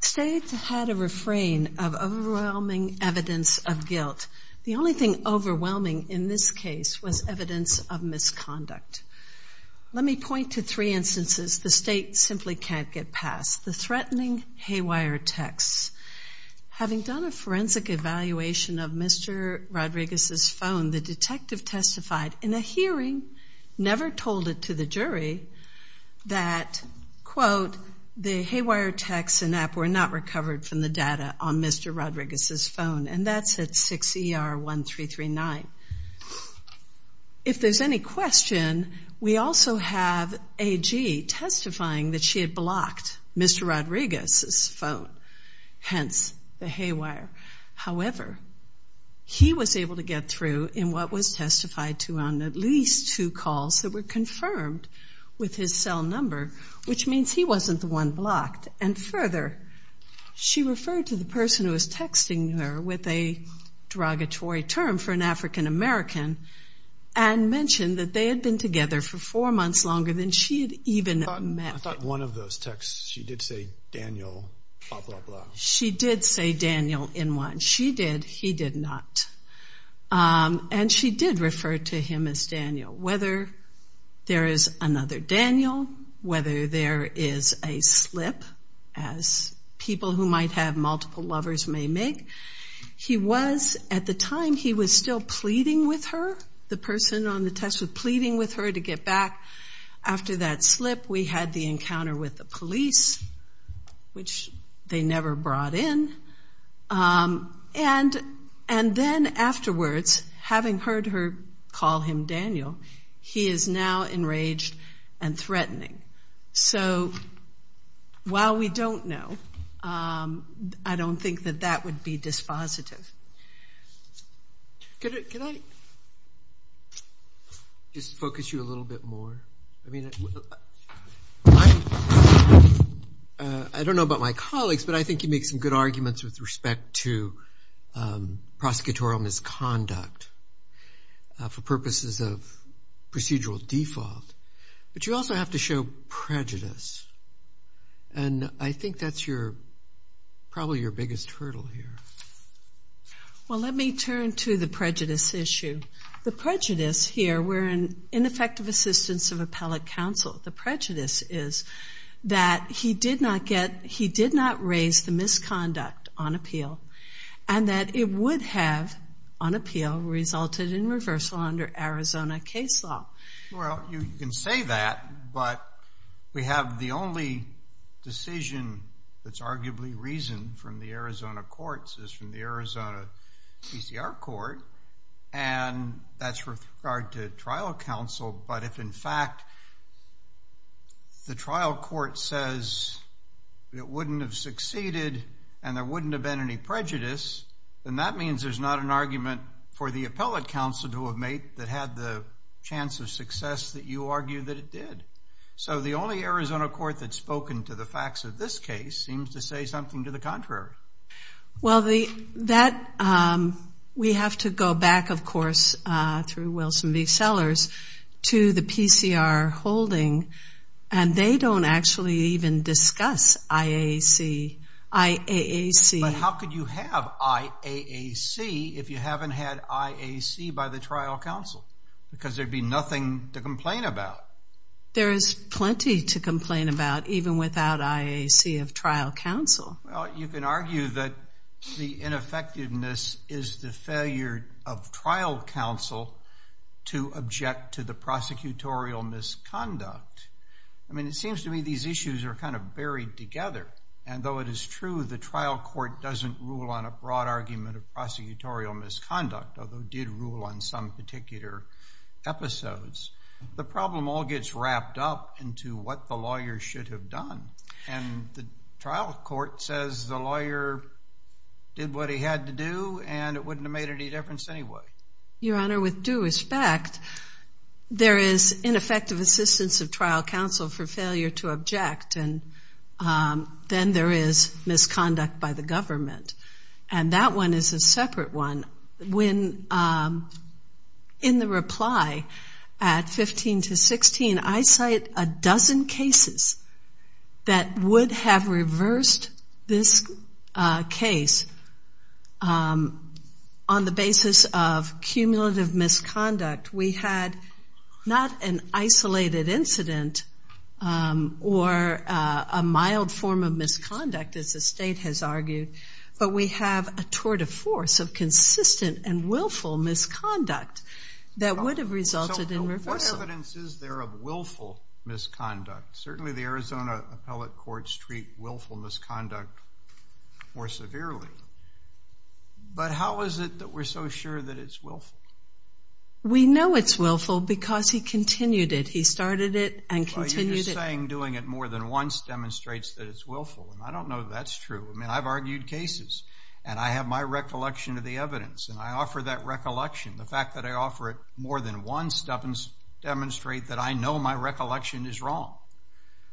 State had a refrain of overwhelming evidence of guilt. The only thing overwhelming in this case was evidence of misconduct. Let me point to three instances the State simply can't get past the threatening haywire texts. Having done a forensic evaluation of Mr. Rodriguez's phone, the detective testified in a hearing, never told it to the jury, that, quote, the haywire texts and app were not recovered from the data on Mr. Rodriguez's phone. And that's 6ER1339. If there's any question, we also have AG testifying that she had blocked Mr. Rodriguez's phone, hence the haywire. However, he was able to get through in what was testified to on at least two calls that were confirmed with his cell number, which means he wasn't the one blocked. And further, she referred to the person who was texting her with a derogatory term for an African American and mentioned that they had been together for four months longer than she had even met. I thought one of those texts, she did say Daniel, blah, blah, blah. She did say Daniel in one. She did, he did not. And she did refer to him as Daniel. Whether there is another Daniel, whether there is a slip, as people who might have multiple lovers may make, he was, at the time, he was still pleading with her. The person on the text was pleading with her to get back. After that slip, we had the encounter with the police, which they never brought in. And then afterwards, having heard her call him Daniel, he is now enraged and threatening. So while we don't know, I don't think that that would be dispositive. Can I just focus you a little bit more? I don't know about my colleagues, but I think you make some good arguments with respect to prosecutorial misconduct for purposes of procedural default. But you also have to show prejudice. And I think that's your, probably your biggest hurdle here. Well, let me turn to the prejudice issue. The prejudice here, we're in ineffective assistance of appellate counsel. The prejudice is that he did not get, he did not raise the misconduct on appeal, and that it would have, on appeal, resulted in reversal under Arizona case law. Well, you can say that, but we have the only decision that's arguably reasoned from the Arizona courts is from the Arizona PCR court, and that's with regard to trial counsel. But if, in fact, the trial court says it wouldn't have succeeded and there wouldn't have been any prejudice, then that means there's not an argument for the appellate counsel to have made that had the chance of success that you something to the contrary. Well, we have to go back, of course, through Wilson v. Sellers to the PCR holding, and they don't actually even discuss IAAC. But how could you have IAAC if you haven't had IAAC by the trial counsel? Because there'd be nothing to complain Well, you can argue that the ineffectiveness is the failure of trial counsel to object to the prosecutorial misconduct. I mean, it seems to me these issues are kind of buried together, and though it is true the trial court doesn't rule on a broad argument of prosecutorial misconduct, although it did rule on some particular episodes, the problem all gets wrapped up into what the lawyer should have done. And the trial court says the lawyer did what he had to do, and it wouldn't have made any difference anyway. Your Honor, with due respect, there is ineffective assistance of trial counsel for failure to object, and then there is misconduct by the government. And that one is a separate one. In the reply at 15 to 16, I cite a dozen cases that would have reversed this case on the basis of cumulative misconduct. We had not an isolated incident or a mild form of misconduct that would have resulted in reversal. So what evidence is there of willful misconduct? Certainly the Arizona appellate courts treat willful misconduct more severely. But how is it that we're so sure that it's willful? We know it's willful because he continued it. He started it and continued it. Well, you're just saying doing it more than once demonstrates that it's willful, and I don't know if that's true. I mean, I've argued cases, and I have my recollection of the evidence, and I offer that recollection. The fact that I offer it more than once doesn't demonstrate that I know my recollection is wrong.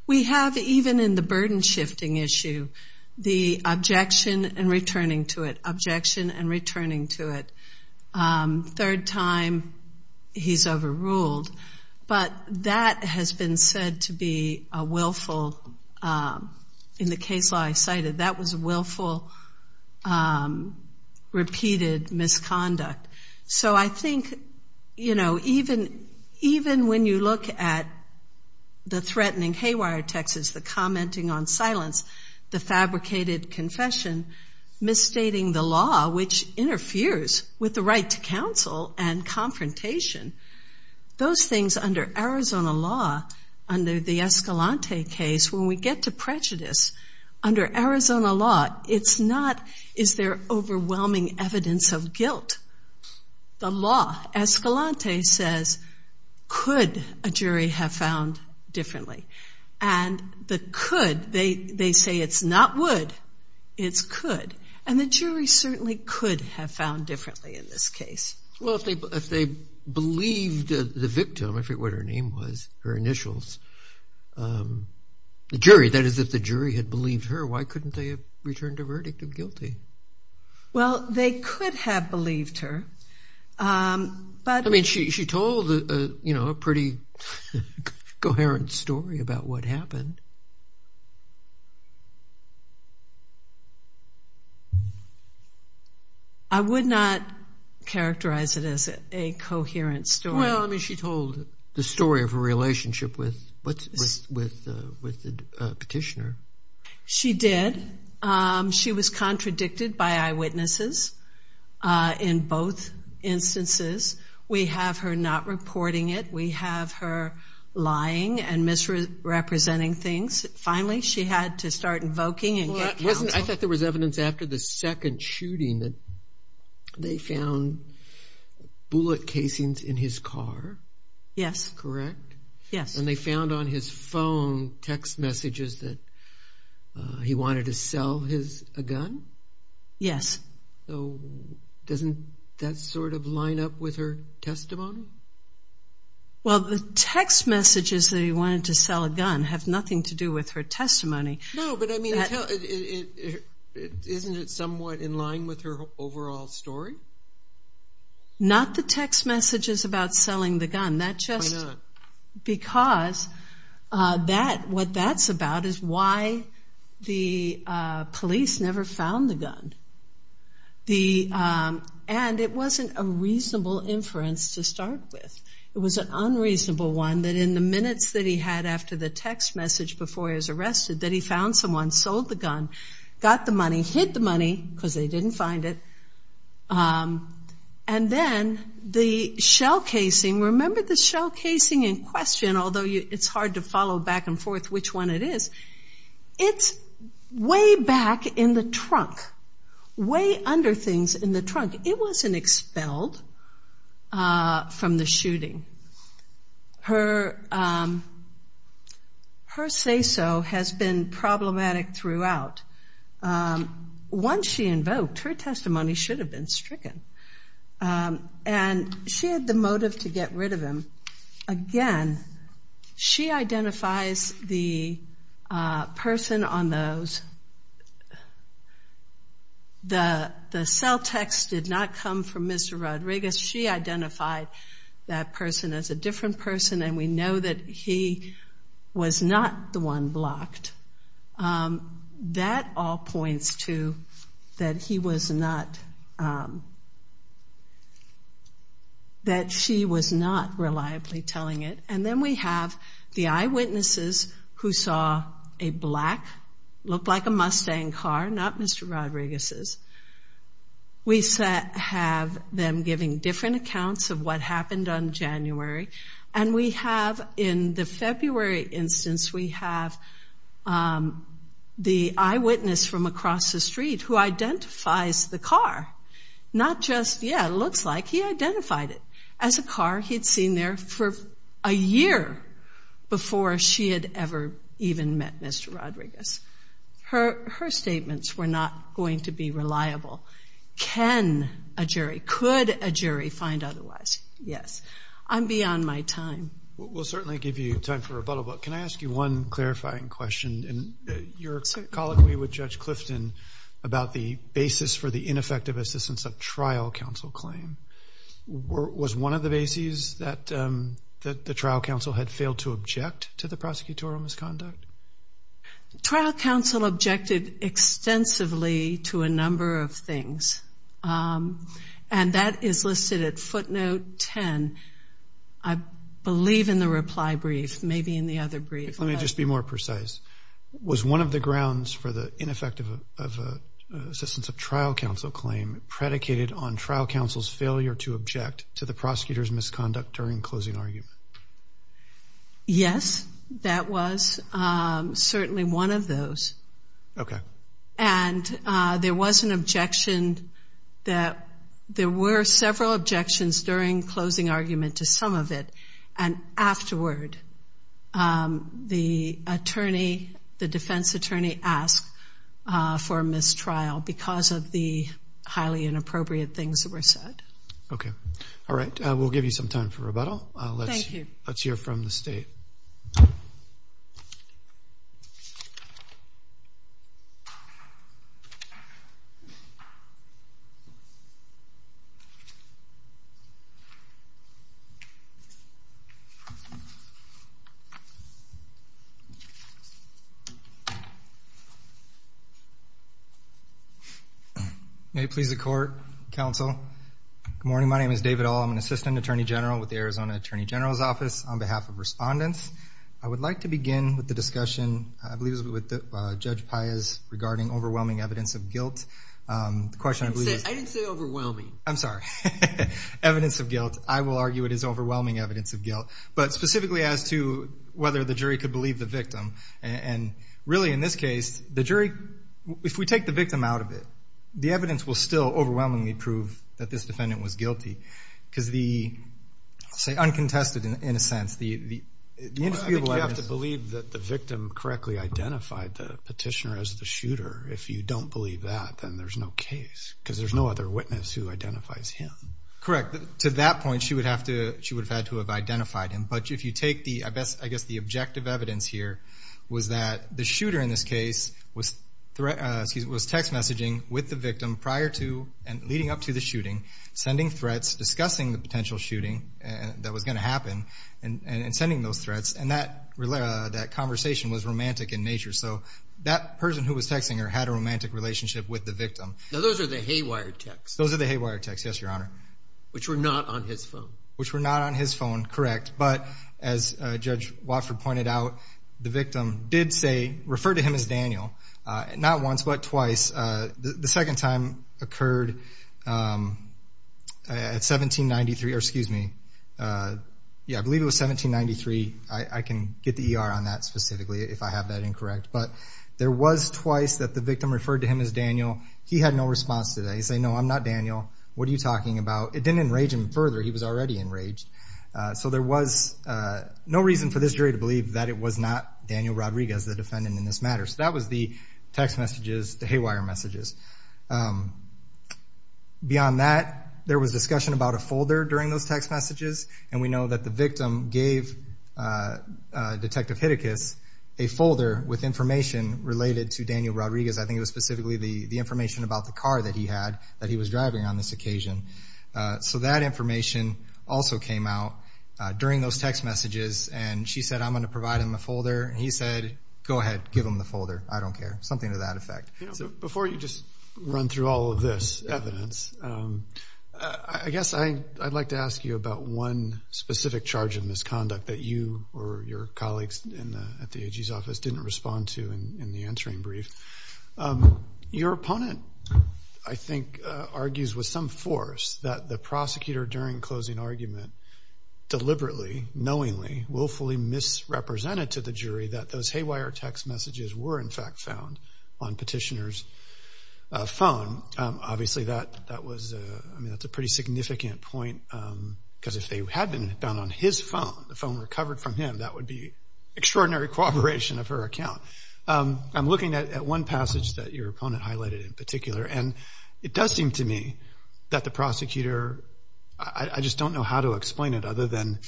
We have, even in the burden-shifting issue, the objection and returning to it, objection and returning to it. Third time, he's overruled. But that has been said to be a willful, in the case law I cited, that was a willful, repeated misconduct. So I think, you know, even when you look at the threatening haywire texts, the commenting on silence, the fabricated confession, misstating the law, which interferes with the right to counsel and confrontation. Those things under Arizona law, under the Escalante case, when we get to prejudice, under Arizona law, it's not, is there overwhelming evidence of guilt? The law, Escalante says, could a jury have found differently? And the could, they say it's not would, it's could. And the jury certainly could have found differently in this case. Well, if they believed the victim, I forget what her name was, her initials, the jury, that is, if the jury had believed her, why couldn't they have returned a verdict of guilty? Well, they could have believed her. I mean, she told a pretty coherent story about what happened. I would not characterize it as a coherent story. Well, I mean, she told the story of her relationship with the petitioner. She did. She was contradicted by eyewitnesses in both instances. We have her not reporting it. We have her lying and misrepresenting things. Finally, she had to start invoking and get counsel. I thought there was evidence after the second shooting that they found bullet casings in his car. Yes. Correct? Yes. And they found on his phone text messages that he wanted to sell his gun? Yes. Doesn't that sort of line up with her testimony? Well, the text messages that he wanted to sell a gun have nothing to do with her testimony. No, but I mean, isn't it somewhat in line with her overall story? Not the text messages about selling the gun. Why not? Because what that's about is why the police never found the gun. And it wasn't a reasonable inference to start with. It was an unreasonable one that in the minutes that he had after the text message before he was arrested that he found someone, sold the gun, got the money, hid the money because they didn't find it. And then the shell casing, remember the shell casing in question, although it's hard to follow back and forth which one it is, it's way back in the trunk, way under things in the trunk. It wasn't expelled from the shooting. Her say-so has been problematic throughout. Once she invoked, her testimony should have been stricken. And she had the motive to get rid of him. Again, she identifies the person on those. The cell text did not come from Mr. Rodriguez. She identified that person as a different person, and we know that he was not the one blocked. That all points to that he was not, that she was not reliably telling it. And then we have the eyewitnesses who saw a black, looked like a Mustang car, not Mr. Rodriguez's. We have them giving different accounts of what happened on January. And we have, in the February instance, we have the eyewitness from across the street who identifies the car, not just, yeah, it looks like he identified it as a car he'd seen there for a year before she had ever even met Mr. Rodriguez. Her statements were not going to be reliable. Can a jury, could a jury find otherwise? Yes. I'm beyond my time. We'll certainly give you time for rebuttal, but can I ask you one clarifying question? You're colloquially with Judge Clifton about the basis for the ineffective assistance of trial counsel claim. Was one of the bases that the trial counsel had failed to object to the prosecutorial misconduct? Trial counsel objected extensively to a number of things, and that is listed at footnote 10, I believe, in the reply brief, maybe in the other brief. Let me just be more precise. Was one of the grounds for the ineffective assistance of trial counsel claim predicated on trial counsel's failure to object to the prosecutor's misconduct during closing argument? Yes, that was certainly one of those. Okay. And there was an objection that there were several objections during closing argument to some of it, and afterward, the attorney, the defense attorney asked for a mistrial because of the highly inappropriate things that were said. Okay. All right. We'll give you some time for rebuttal. Thank you. Let's hear from the State. Okay. May it please the Court, Counsel. Good morning. My name is David Ull. I'm an assistant attorney general with the Arizona Attorney General's Office on behalf of respondents. I would like to begin with the discussion, I believe it was with Judge Piaz, regarding overwhelming evidence of guilt. I didn't say overwhelming. I'm sorry. Evidence of guilt. I will argue it is overwhelming evidence of guilt, but specifically as to whether the jury could believe the victim. And really, in this case, the jury, if we take the victim out of it, the evidence will still overwhelmingly prove that this defendant was guilty because the, I'll say uncontested in a sense, the indisputable evidence. I think you have to believe that the victim correctly identified the petitioner as the shooter. If you don't believe that, then there's no case because there's no other witness who identifies him. Correct. To that point, she would have had to have identified him. But if you take the, I guess the objective evidence here, was that the shooter in this case was text messaging with the victim prior to and leading up to the shooting, sending threats, discussing the potential shooting that was going to happen, and sending those threats. And that conversation was romantic in nature. So that person who was texting her had a romantic relationship with the victim. Now those are the haywire texts. Those are the haywire texts, yes, Your Honor. Which were not on his phone. Which were not on his phone, correct. But as Judge Watford pointed out, the victim did say, refer to him as Daniel, not once but twice. The second time occurred at 1793. Excuse me. I believe it was 1793. I can get the ER on that specifically if I have that incorrect. But there was twice that the victim referred to him as Daniel. He had no response to that. He said, no, I'm not Daniel. What are you talking about? It didn't enrage him further. He was already enraged. So there was no reason for this jury to believe that it was not Daniel Rodriguez, the defendant in this matter. So that was the text messages, the haywire messages. Beyond that, there was discussion about a folder during those text messages. And we know that the victim gave Detective Hitticus a folder with information related to Daniel Rodriguez. I think it was specifically the information about the car that he had, that he was driving on this occasion. So that information also came out during those text messages. And she said, I'm going to provide him a folder. And he said, go ahead, give him the folder. I don't care. Something to that effect. Before you just run through all of this evidence, I guess I'd like to ask you about one specific charge of misconduct that you or your colleagues at the AG's office didn't respond to in the answering brief. Your opponent, I think, argues with some force that the prosecutor during closing the argument deliberately, knowingly, willfully misrepresented to the jury that those haywire text messages were, in fact, found on Petitioner's phone. Obviously, that was a pretty significant point, because if they had been found on his phone, the phone recovered from him, that would be extraordinary cooperation of her account. I'm looking at one passage that your opponent highlighted in particular, and it does seem to me that the prosecutor, I just don't know how to explain it, other than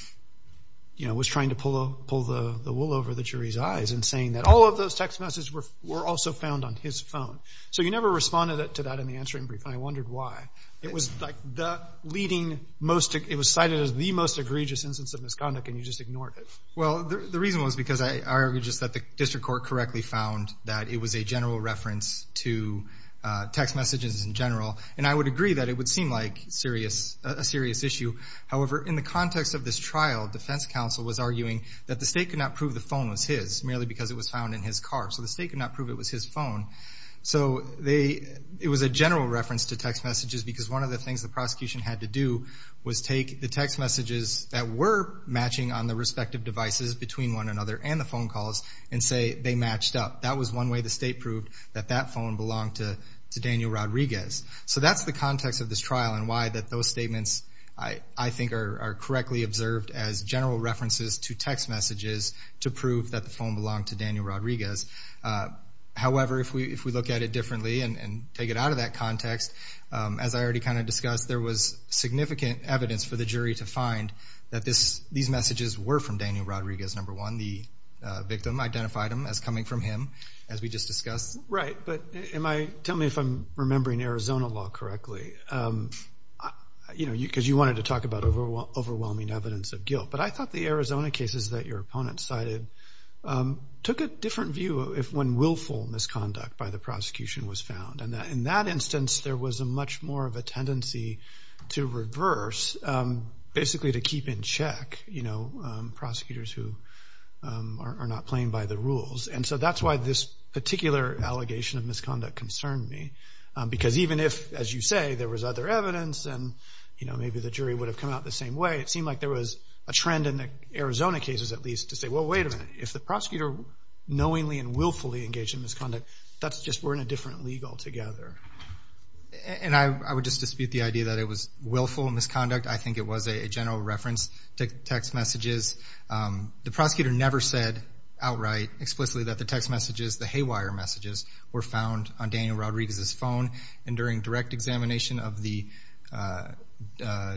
was trying to pull the wool over the jury's eyes in saying that all of those text messages were also found on his phone. So you never responded to that in the answering brief, and I wondered why. It was cited as the most egregious instance of misconduct, and you just ignored it. Well, the reason was because I argued just that the district court correctly found that it was a general reference to text messages in general. And I would agree that it would seem like a serious issue. However, in the context of this trial, defense counsel was arguing that the state could not prove the phone was his, merely because it was found in his car. So the state could not prove it was his phone. So it was a general reference to text messages, because one of the things the prosecution had to do was take the text messages that were matching on the respective devices between one another and the phone calls and say they matched up. That was one way the state proved that that phone belonged to Daniel Rodriguez. So that's the context of this trial and why those statements, I think, are correctly observed as general references to text messages to prove that the phone belonged to Daniel Rodriguez. However, if we look at it differently and take it out of that context, as I already kind of discussed, there was significant evidence for the jury to find that these messages were from Daniel Rodriguez, number one. The victim identified them as coming from him, as we just discussed. Right, but tell me if I'm remembering Arizona law correctly, because you wanted to talk about overwhelming evidence of guilt. But I thought the Arizona cases that your opponent cited took a different view when willful misconduct by the prosecution was found. In that instance, there was much more of a tendency to reverse, basically to keep in check prosecutors who are not playing by the rules. And so that's why this particular allegation of misconduct concerned me. Because even if, as you say, there was other evidence and maybe the jury would have come out the same way, it seemed like there was a trend in the Arizona cases, at least, to say, well, wait a minute, if the prosecutor knowingly and willfully engaged in misconduct, that's just we're in a different league altogether. And I would just dispute the idea that it was willful misconduct. I think it was a general reference to text messages. The prosecutor never said outright explicitly that the text messages, the haywire messages, were found on Daniel Rodriguez's phone. And during direct examination of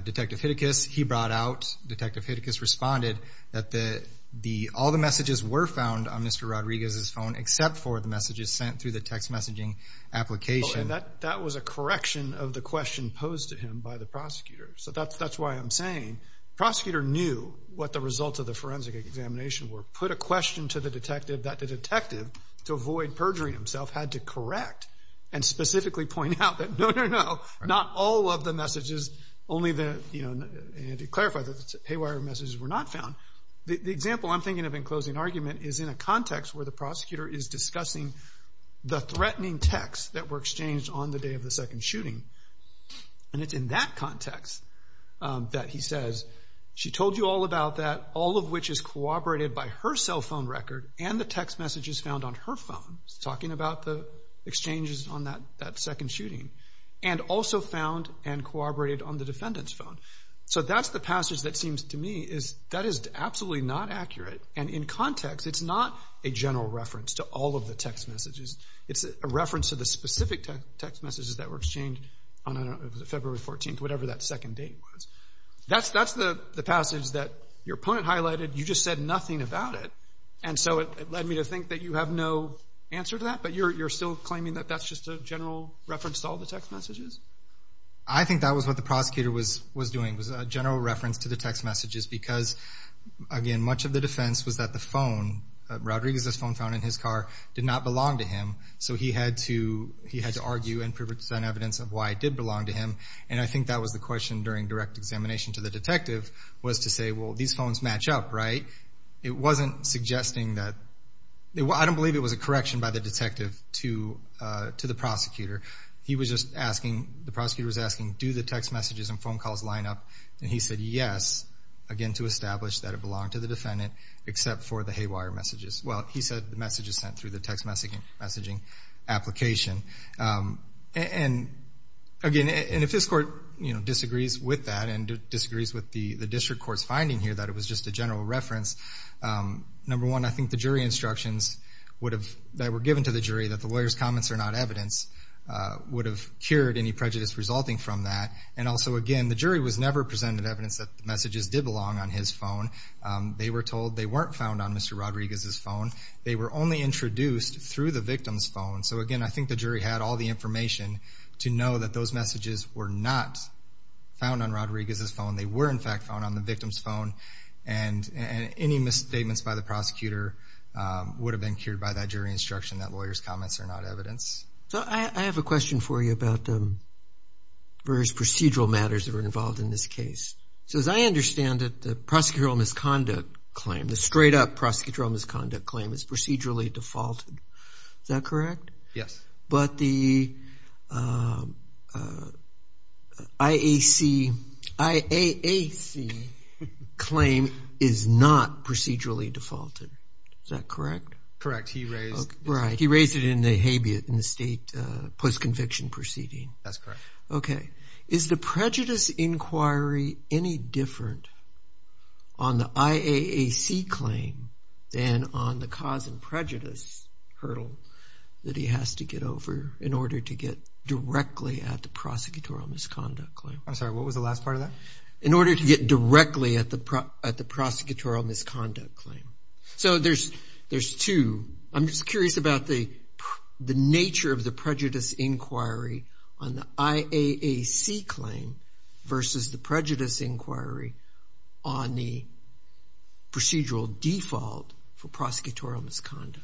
Detective Hitticus, he brought out, Detective Hitticus responded that all the messages were found on Mr. Rodriguez's phone except for the messages sent through the text messaging application. And that was a correction of the question posed to him by the prosecutor. So that's why I'm saying the prosecutor knew what the results of the forensic examination were, put a question to the detective that the detective, to avoid perjuring himself, had to correct and specifically point out that, no, no, no, not all of the messages, only the, and to clarify, the haywire messages were not found. The example I'm thinking of in closing argument is in a context where the prosecutor is discussing the threatening text that were exchanged on the day of the second shooting. And it's in that context that he says, she told you all about that, all of which is corroborated by her cell phone record and the text messages found on her phone, talking about the exchanges on that second shooting, and also found and corroborated on the defendant's phone. So that's the passage that seems to me is that is absolutely not accurate. And in context, it's not a general reference to all of the text messages. It's a reference to the specific text messages that were exchanged on February 14th, whatever that second date was. That's the passage that your opponent highlighted. You just said nothing about it. And so it led me to think that you have no answer to that, but you're still claiming that that's just a general reference to all the text messages? I think that was what the prosecutor was doing, was a general reference to the text messages, because, again, much of the defense was that the phone, Rodriguez's phone found in his car, did not belong to him, so he had to argue and present evidence of why it did belong to him. And I think that was the question during direct examination to the detective, was to say, well, these phones match up, right? It wasn't suggesting that... I don't believe it was a correction by the detective to the prosecutor. He was just asking, the prosecutor was asking, do the text messages and phone calls line up? And he said yes, again, to establish that it belonged to the defendant except for the haywire messages. Well, he said the messages sent through the text messaging application. And, again, if this court disagrees with that and disagrees with the district court's finding here that it was just a general reference, number one, I think the jury instructions that were given to the jury, that the lawyer's comments are not evidence, would have cured any prejudice resulting from that. And also, again, the jury was never presented evidence that the messages did belong on his phone. They were told they weren't found on Mr. Rodriguez's phone. They were only introduced through the victim's phone. So, again, I think the jury had all the information to know that those messages were not found on Rodriguez's phone. They were, in fact, found on the victim's phone. And any misstatements by the prosecutor would have been cured by that jury instruction that lawyers' comments are not evidence. So I have a question for you about various procedural matters that were involved in this case. So as I understand it, the prosecutorial misconduct claim, the straight-up prosecutorial misconduct claim is procedurally defaulted. Is that correct? Yes. But the IAC claim is not procedurally defaulted. Is that correct? Correct. He raised it in the state post-conviction proceeding. That's correct. Okay. Is the prejudice inquiry any different on the IAAC claim than on the cause and prejudice hurdle that he has to get over in order to get directly at the prosecutorial misconduct claim? I'm sorry, what was the last part of that? In order to get directly at the prosecutorial misconduct claim. So there's two. I'm just curious about the nature of the prejudice inquiry on the IAAC claim versus the prejudice inquiry on the procedural default for prosecutorial misconduct.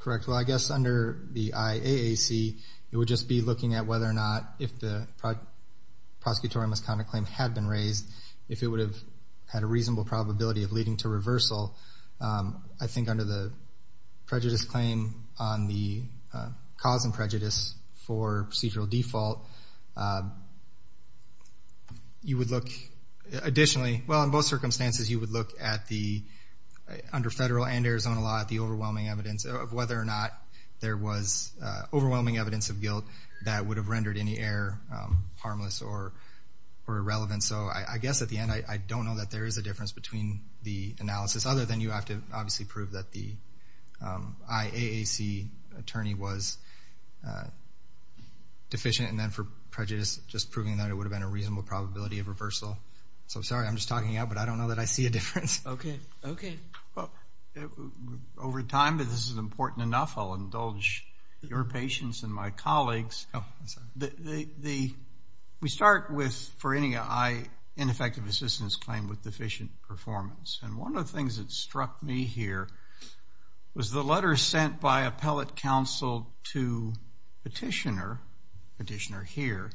Correct. Well, I guess under the IAAC, it would just be looking at whether or not if the prosecutorial misconduct claim had been raised, if it would have had a reasonable probability of leading to reversal. I think under the prejudice claim on the cause and prejudice for procedural default, you would look additionally, well, in both circumstances, you would look under federal and Arizona law at the overwhelming evidence of whether or not there was overwhelming evidence of guilt that would have rendered any error harmless or irrelevant. So I guess at the end, I don't know that there is a difference between the analysis, other than you have to obviously prove that the IAAC attorney was deficient, and then for prejudice, just proving that it would have been a reasonable probability of reversal. So sorry, I'm just talking out, but I don't know that I see a difference. Okay. Over time, but this is important enough, I'll indulge your patience and my colleagues. We start with, for any ineffective assistance claim with deficient performance, and one of the things that struck me here was the letter sent by appellate counsel to petitioner, petitioner here,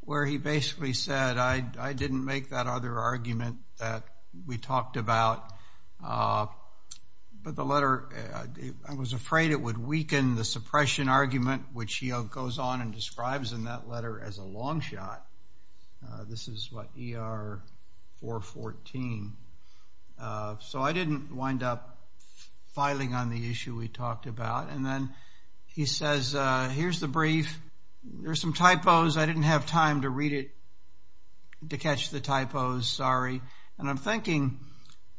where he basically said, I didn't make that other argument that we talked about, but the letter, I was afraid it would weaken the suppression argument, which he goes on and describes in that letter as a long shot. This is what ER 414. So I didn't wind up filing on the issue we talked about, and then he says, here's the brief. There's some typos. I didn't have time to read it, to catch the typos, sorry, and I'm thinking,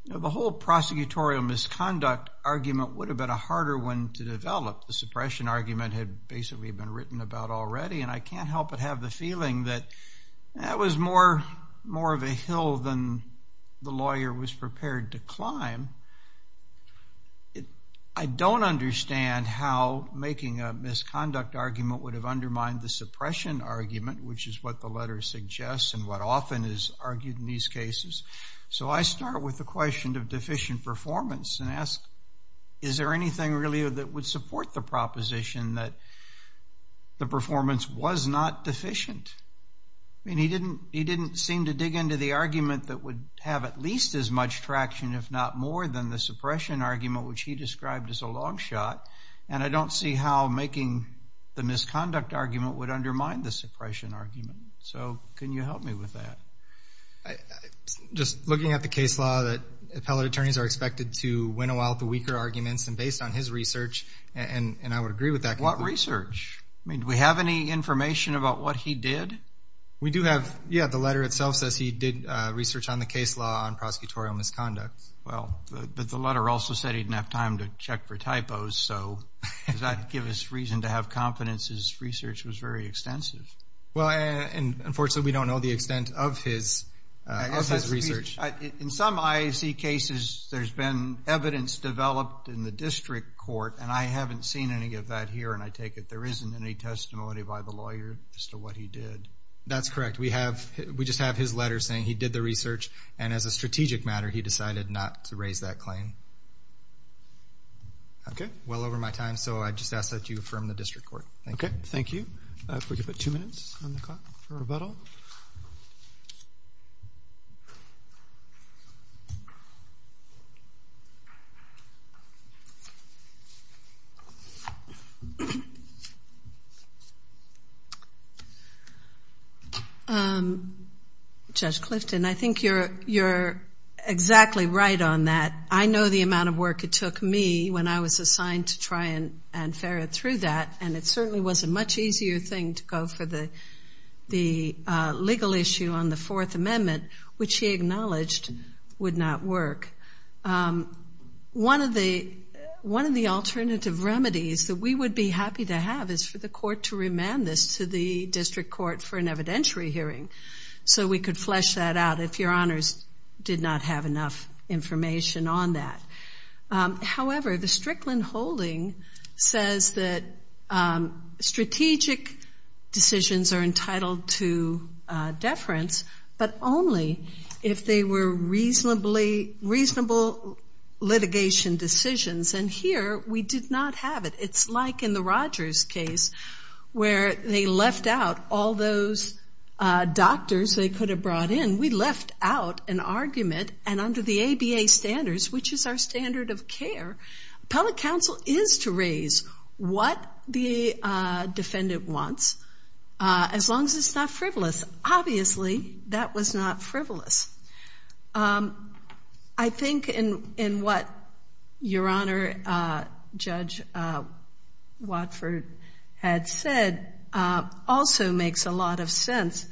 the whole prosecutorial misconduct argument would have been a harder one to develop. The suppression argument had basically been written about already, and I can't help but have the feeling that that was more of a hill than the lawyer was prepared to climb. I don't understand how making a misconduct argument would have undermined the suppression argument, which is what the letter suggests and what often is argued in these cases. So I start with the question of deficient performance and ask, is there anything really that would support the proposition that the performance was not deficient? I mean, he didn't seem to dig into the argument that would have at least as much traction, if not more, than the suppression argument, which he described as a long shot, and I don't see how making the misconduct argument would undermine the suppression argument. So can you help me with that? Just looking at the case law that appellate attorneys are expected to winnow out the weaker arguments, and based on his research, and I would agree with that. What research? I mean, do we have any information about what he did? We do have, yeah, the letter itself says he did research on the case law on prosecutorial misconduct. Well, but the letter also said he didn't have time to check for typos, so does that give us reason to have confidence his research was very extensive? Well, unfortunately, we don't know the extent of his research. In some IAC cases, there's been evidence developed in the district court, and I haven't seen any of that here, and I take it there isn't any testimony by the lawyer as to what he did. That's correct. We just have his letter saying he did the research, and as a strategic matter, he decided not to raise that claim. Okay. Well over my time, so I just ask that you affirm the district court. Okay, thank you. If we could put two minutes on the clock for rebuttal. Judge Clifton, I think you're exactly right on that. I know the amount of work it took me when I was assigned to try and ferret through that, and it certainly was a much easier thing to go for the legal issue on the Fourth Amendment, which he acknowledged would not work. One of the alternative remedies that we would be happy to have is for the court to remand this to the district court for an evidentiary hearing so we could flesh that out if your honors did not have enough information on that. However, the Strickland holding says that strategic decisions are entitled to deference, but only if they were reasonable litigation decisions, and here we did not have it. It's like in the Rogers case where they left out all those doctors they could have brought in. We left out an argument, and under the ABA standards, which is our standard of care, appellate counsel is to raise what the defendant wants as long as it's not frivolous. Obviously, that was not frivolous. I think in what your honor Judge Watford had said also makes a lot of sense.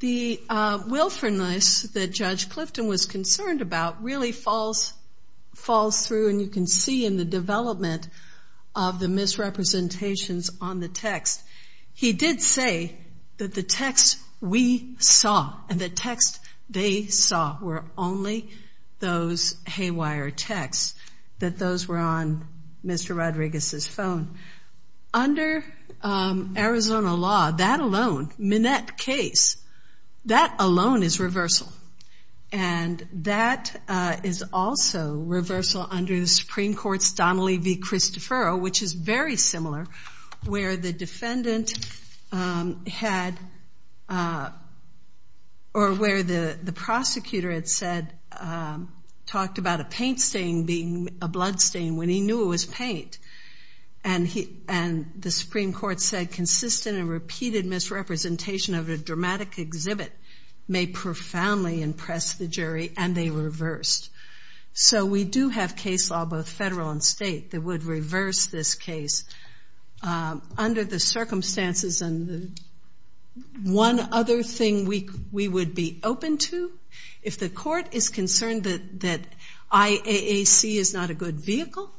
The willfulness that Judge Clifton was concerned about really falls through, and you can see in the development of the misrepresentations on the text. He did say that the text we saw and the text they saw were only those haywire texts, that those were on Mr. Rodriguez's phone. Under Arizona law, that alone, Minette case, that alone is reversal, and that is also reversal under the Supreme Court's Donnelly v. Christophero, which is very similar, where the defendant had, or where the prosecutor had said, talked about a paint stain being a blood stain when he knew it was paint, and the Supreme Court said consistent and repeated misrepresentation of a dramatic exhibit may profoundly impress the jury, and they reversed. We do have case law, both federal and state, that would reverse this case. Under the circumstances, one other thing we would be open to, if the court is concerned that IAAC is not a good vehicle,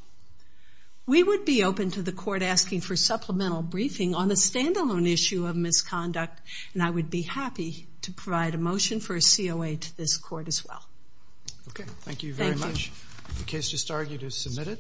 we would be open to the court asking for supplemental briefing on a standalone issue of misconduct, and I would be happy to provide a motion for a COA to this court as well. Okay. Thank you very much. The case just argued is submitted.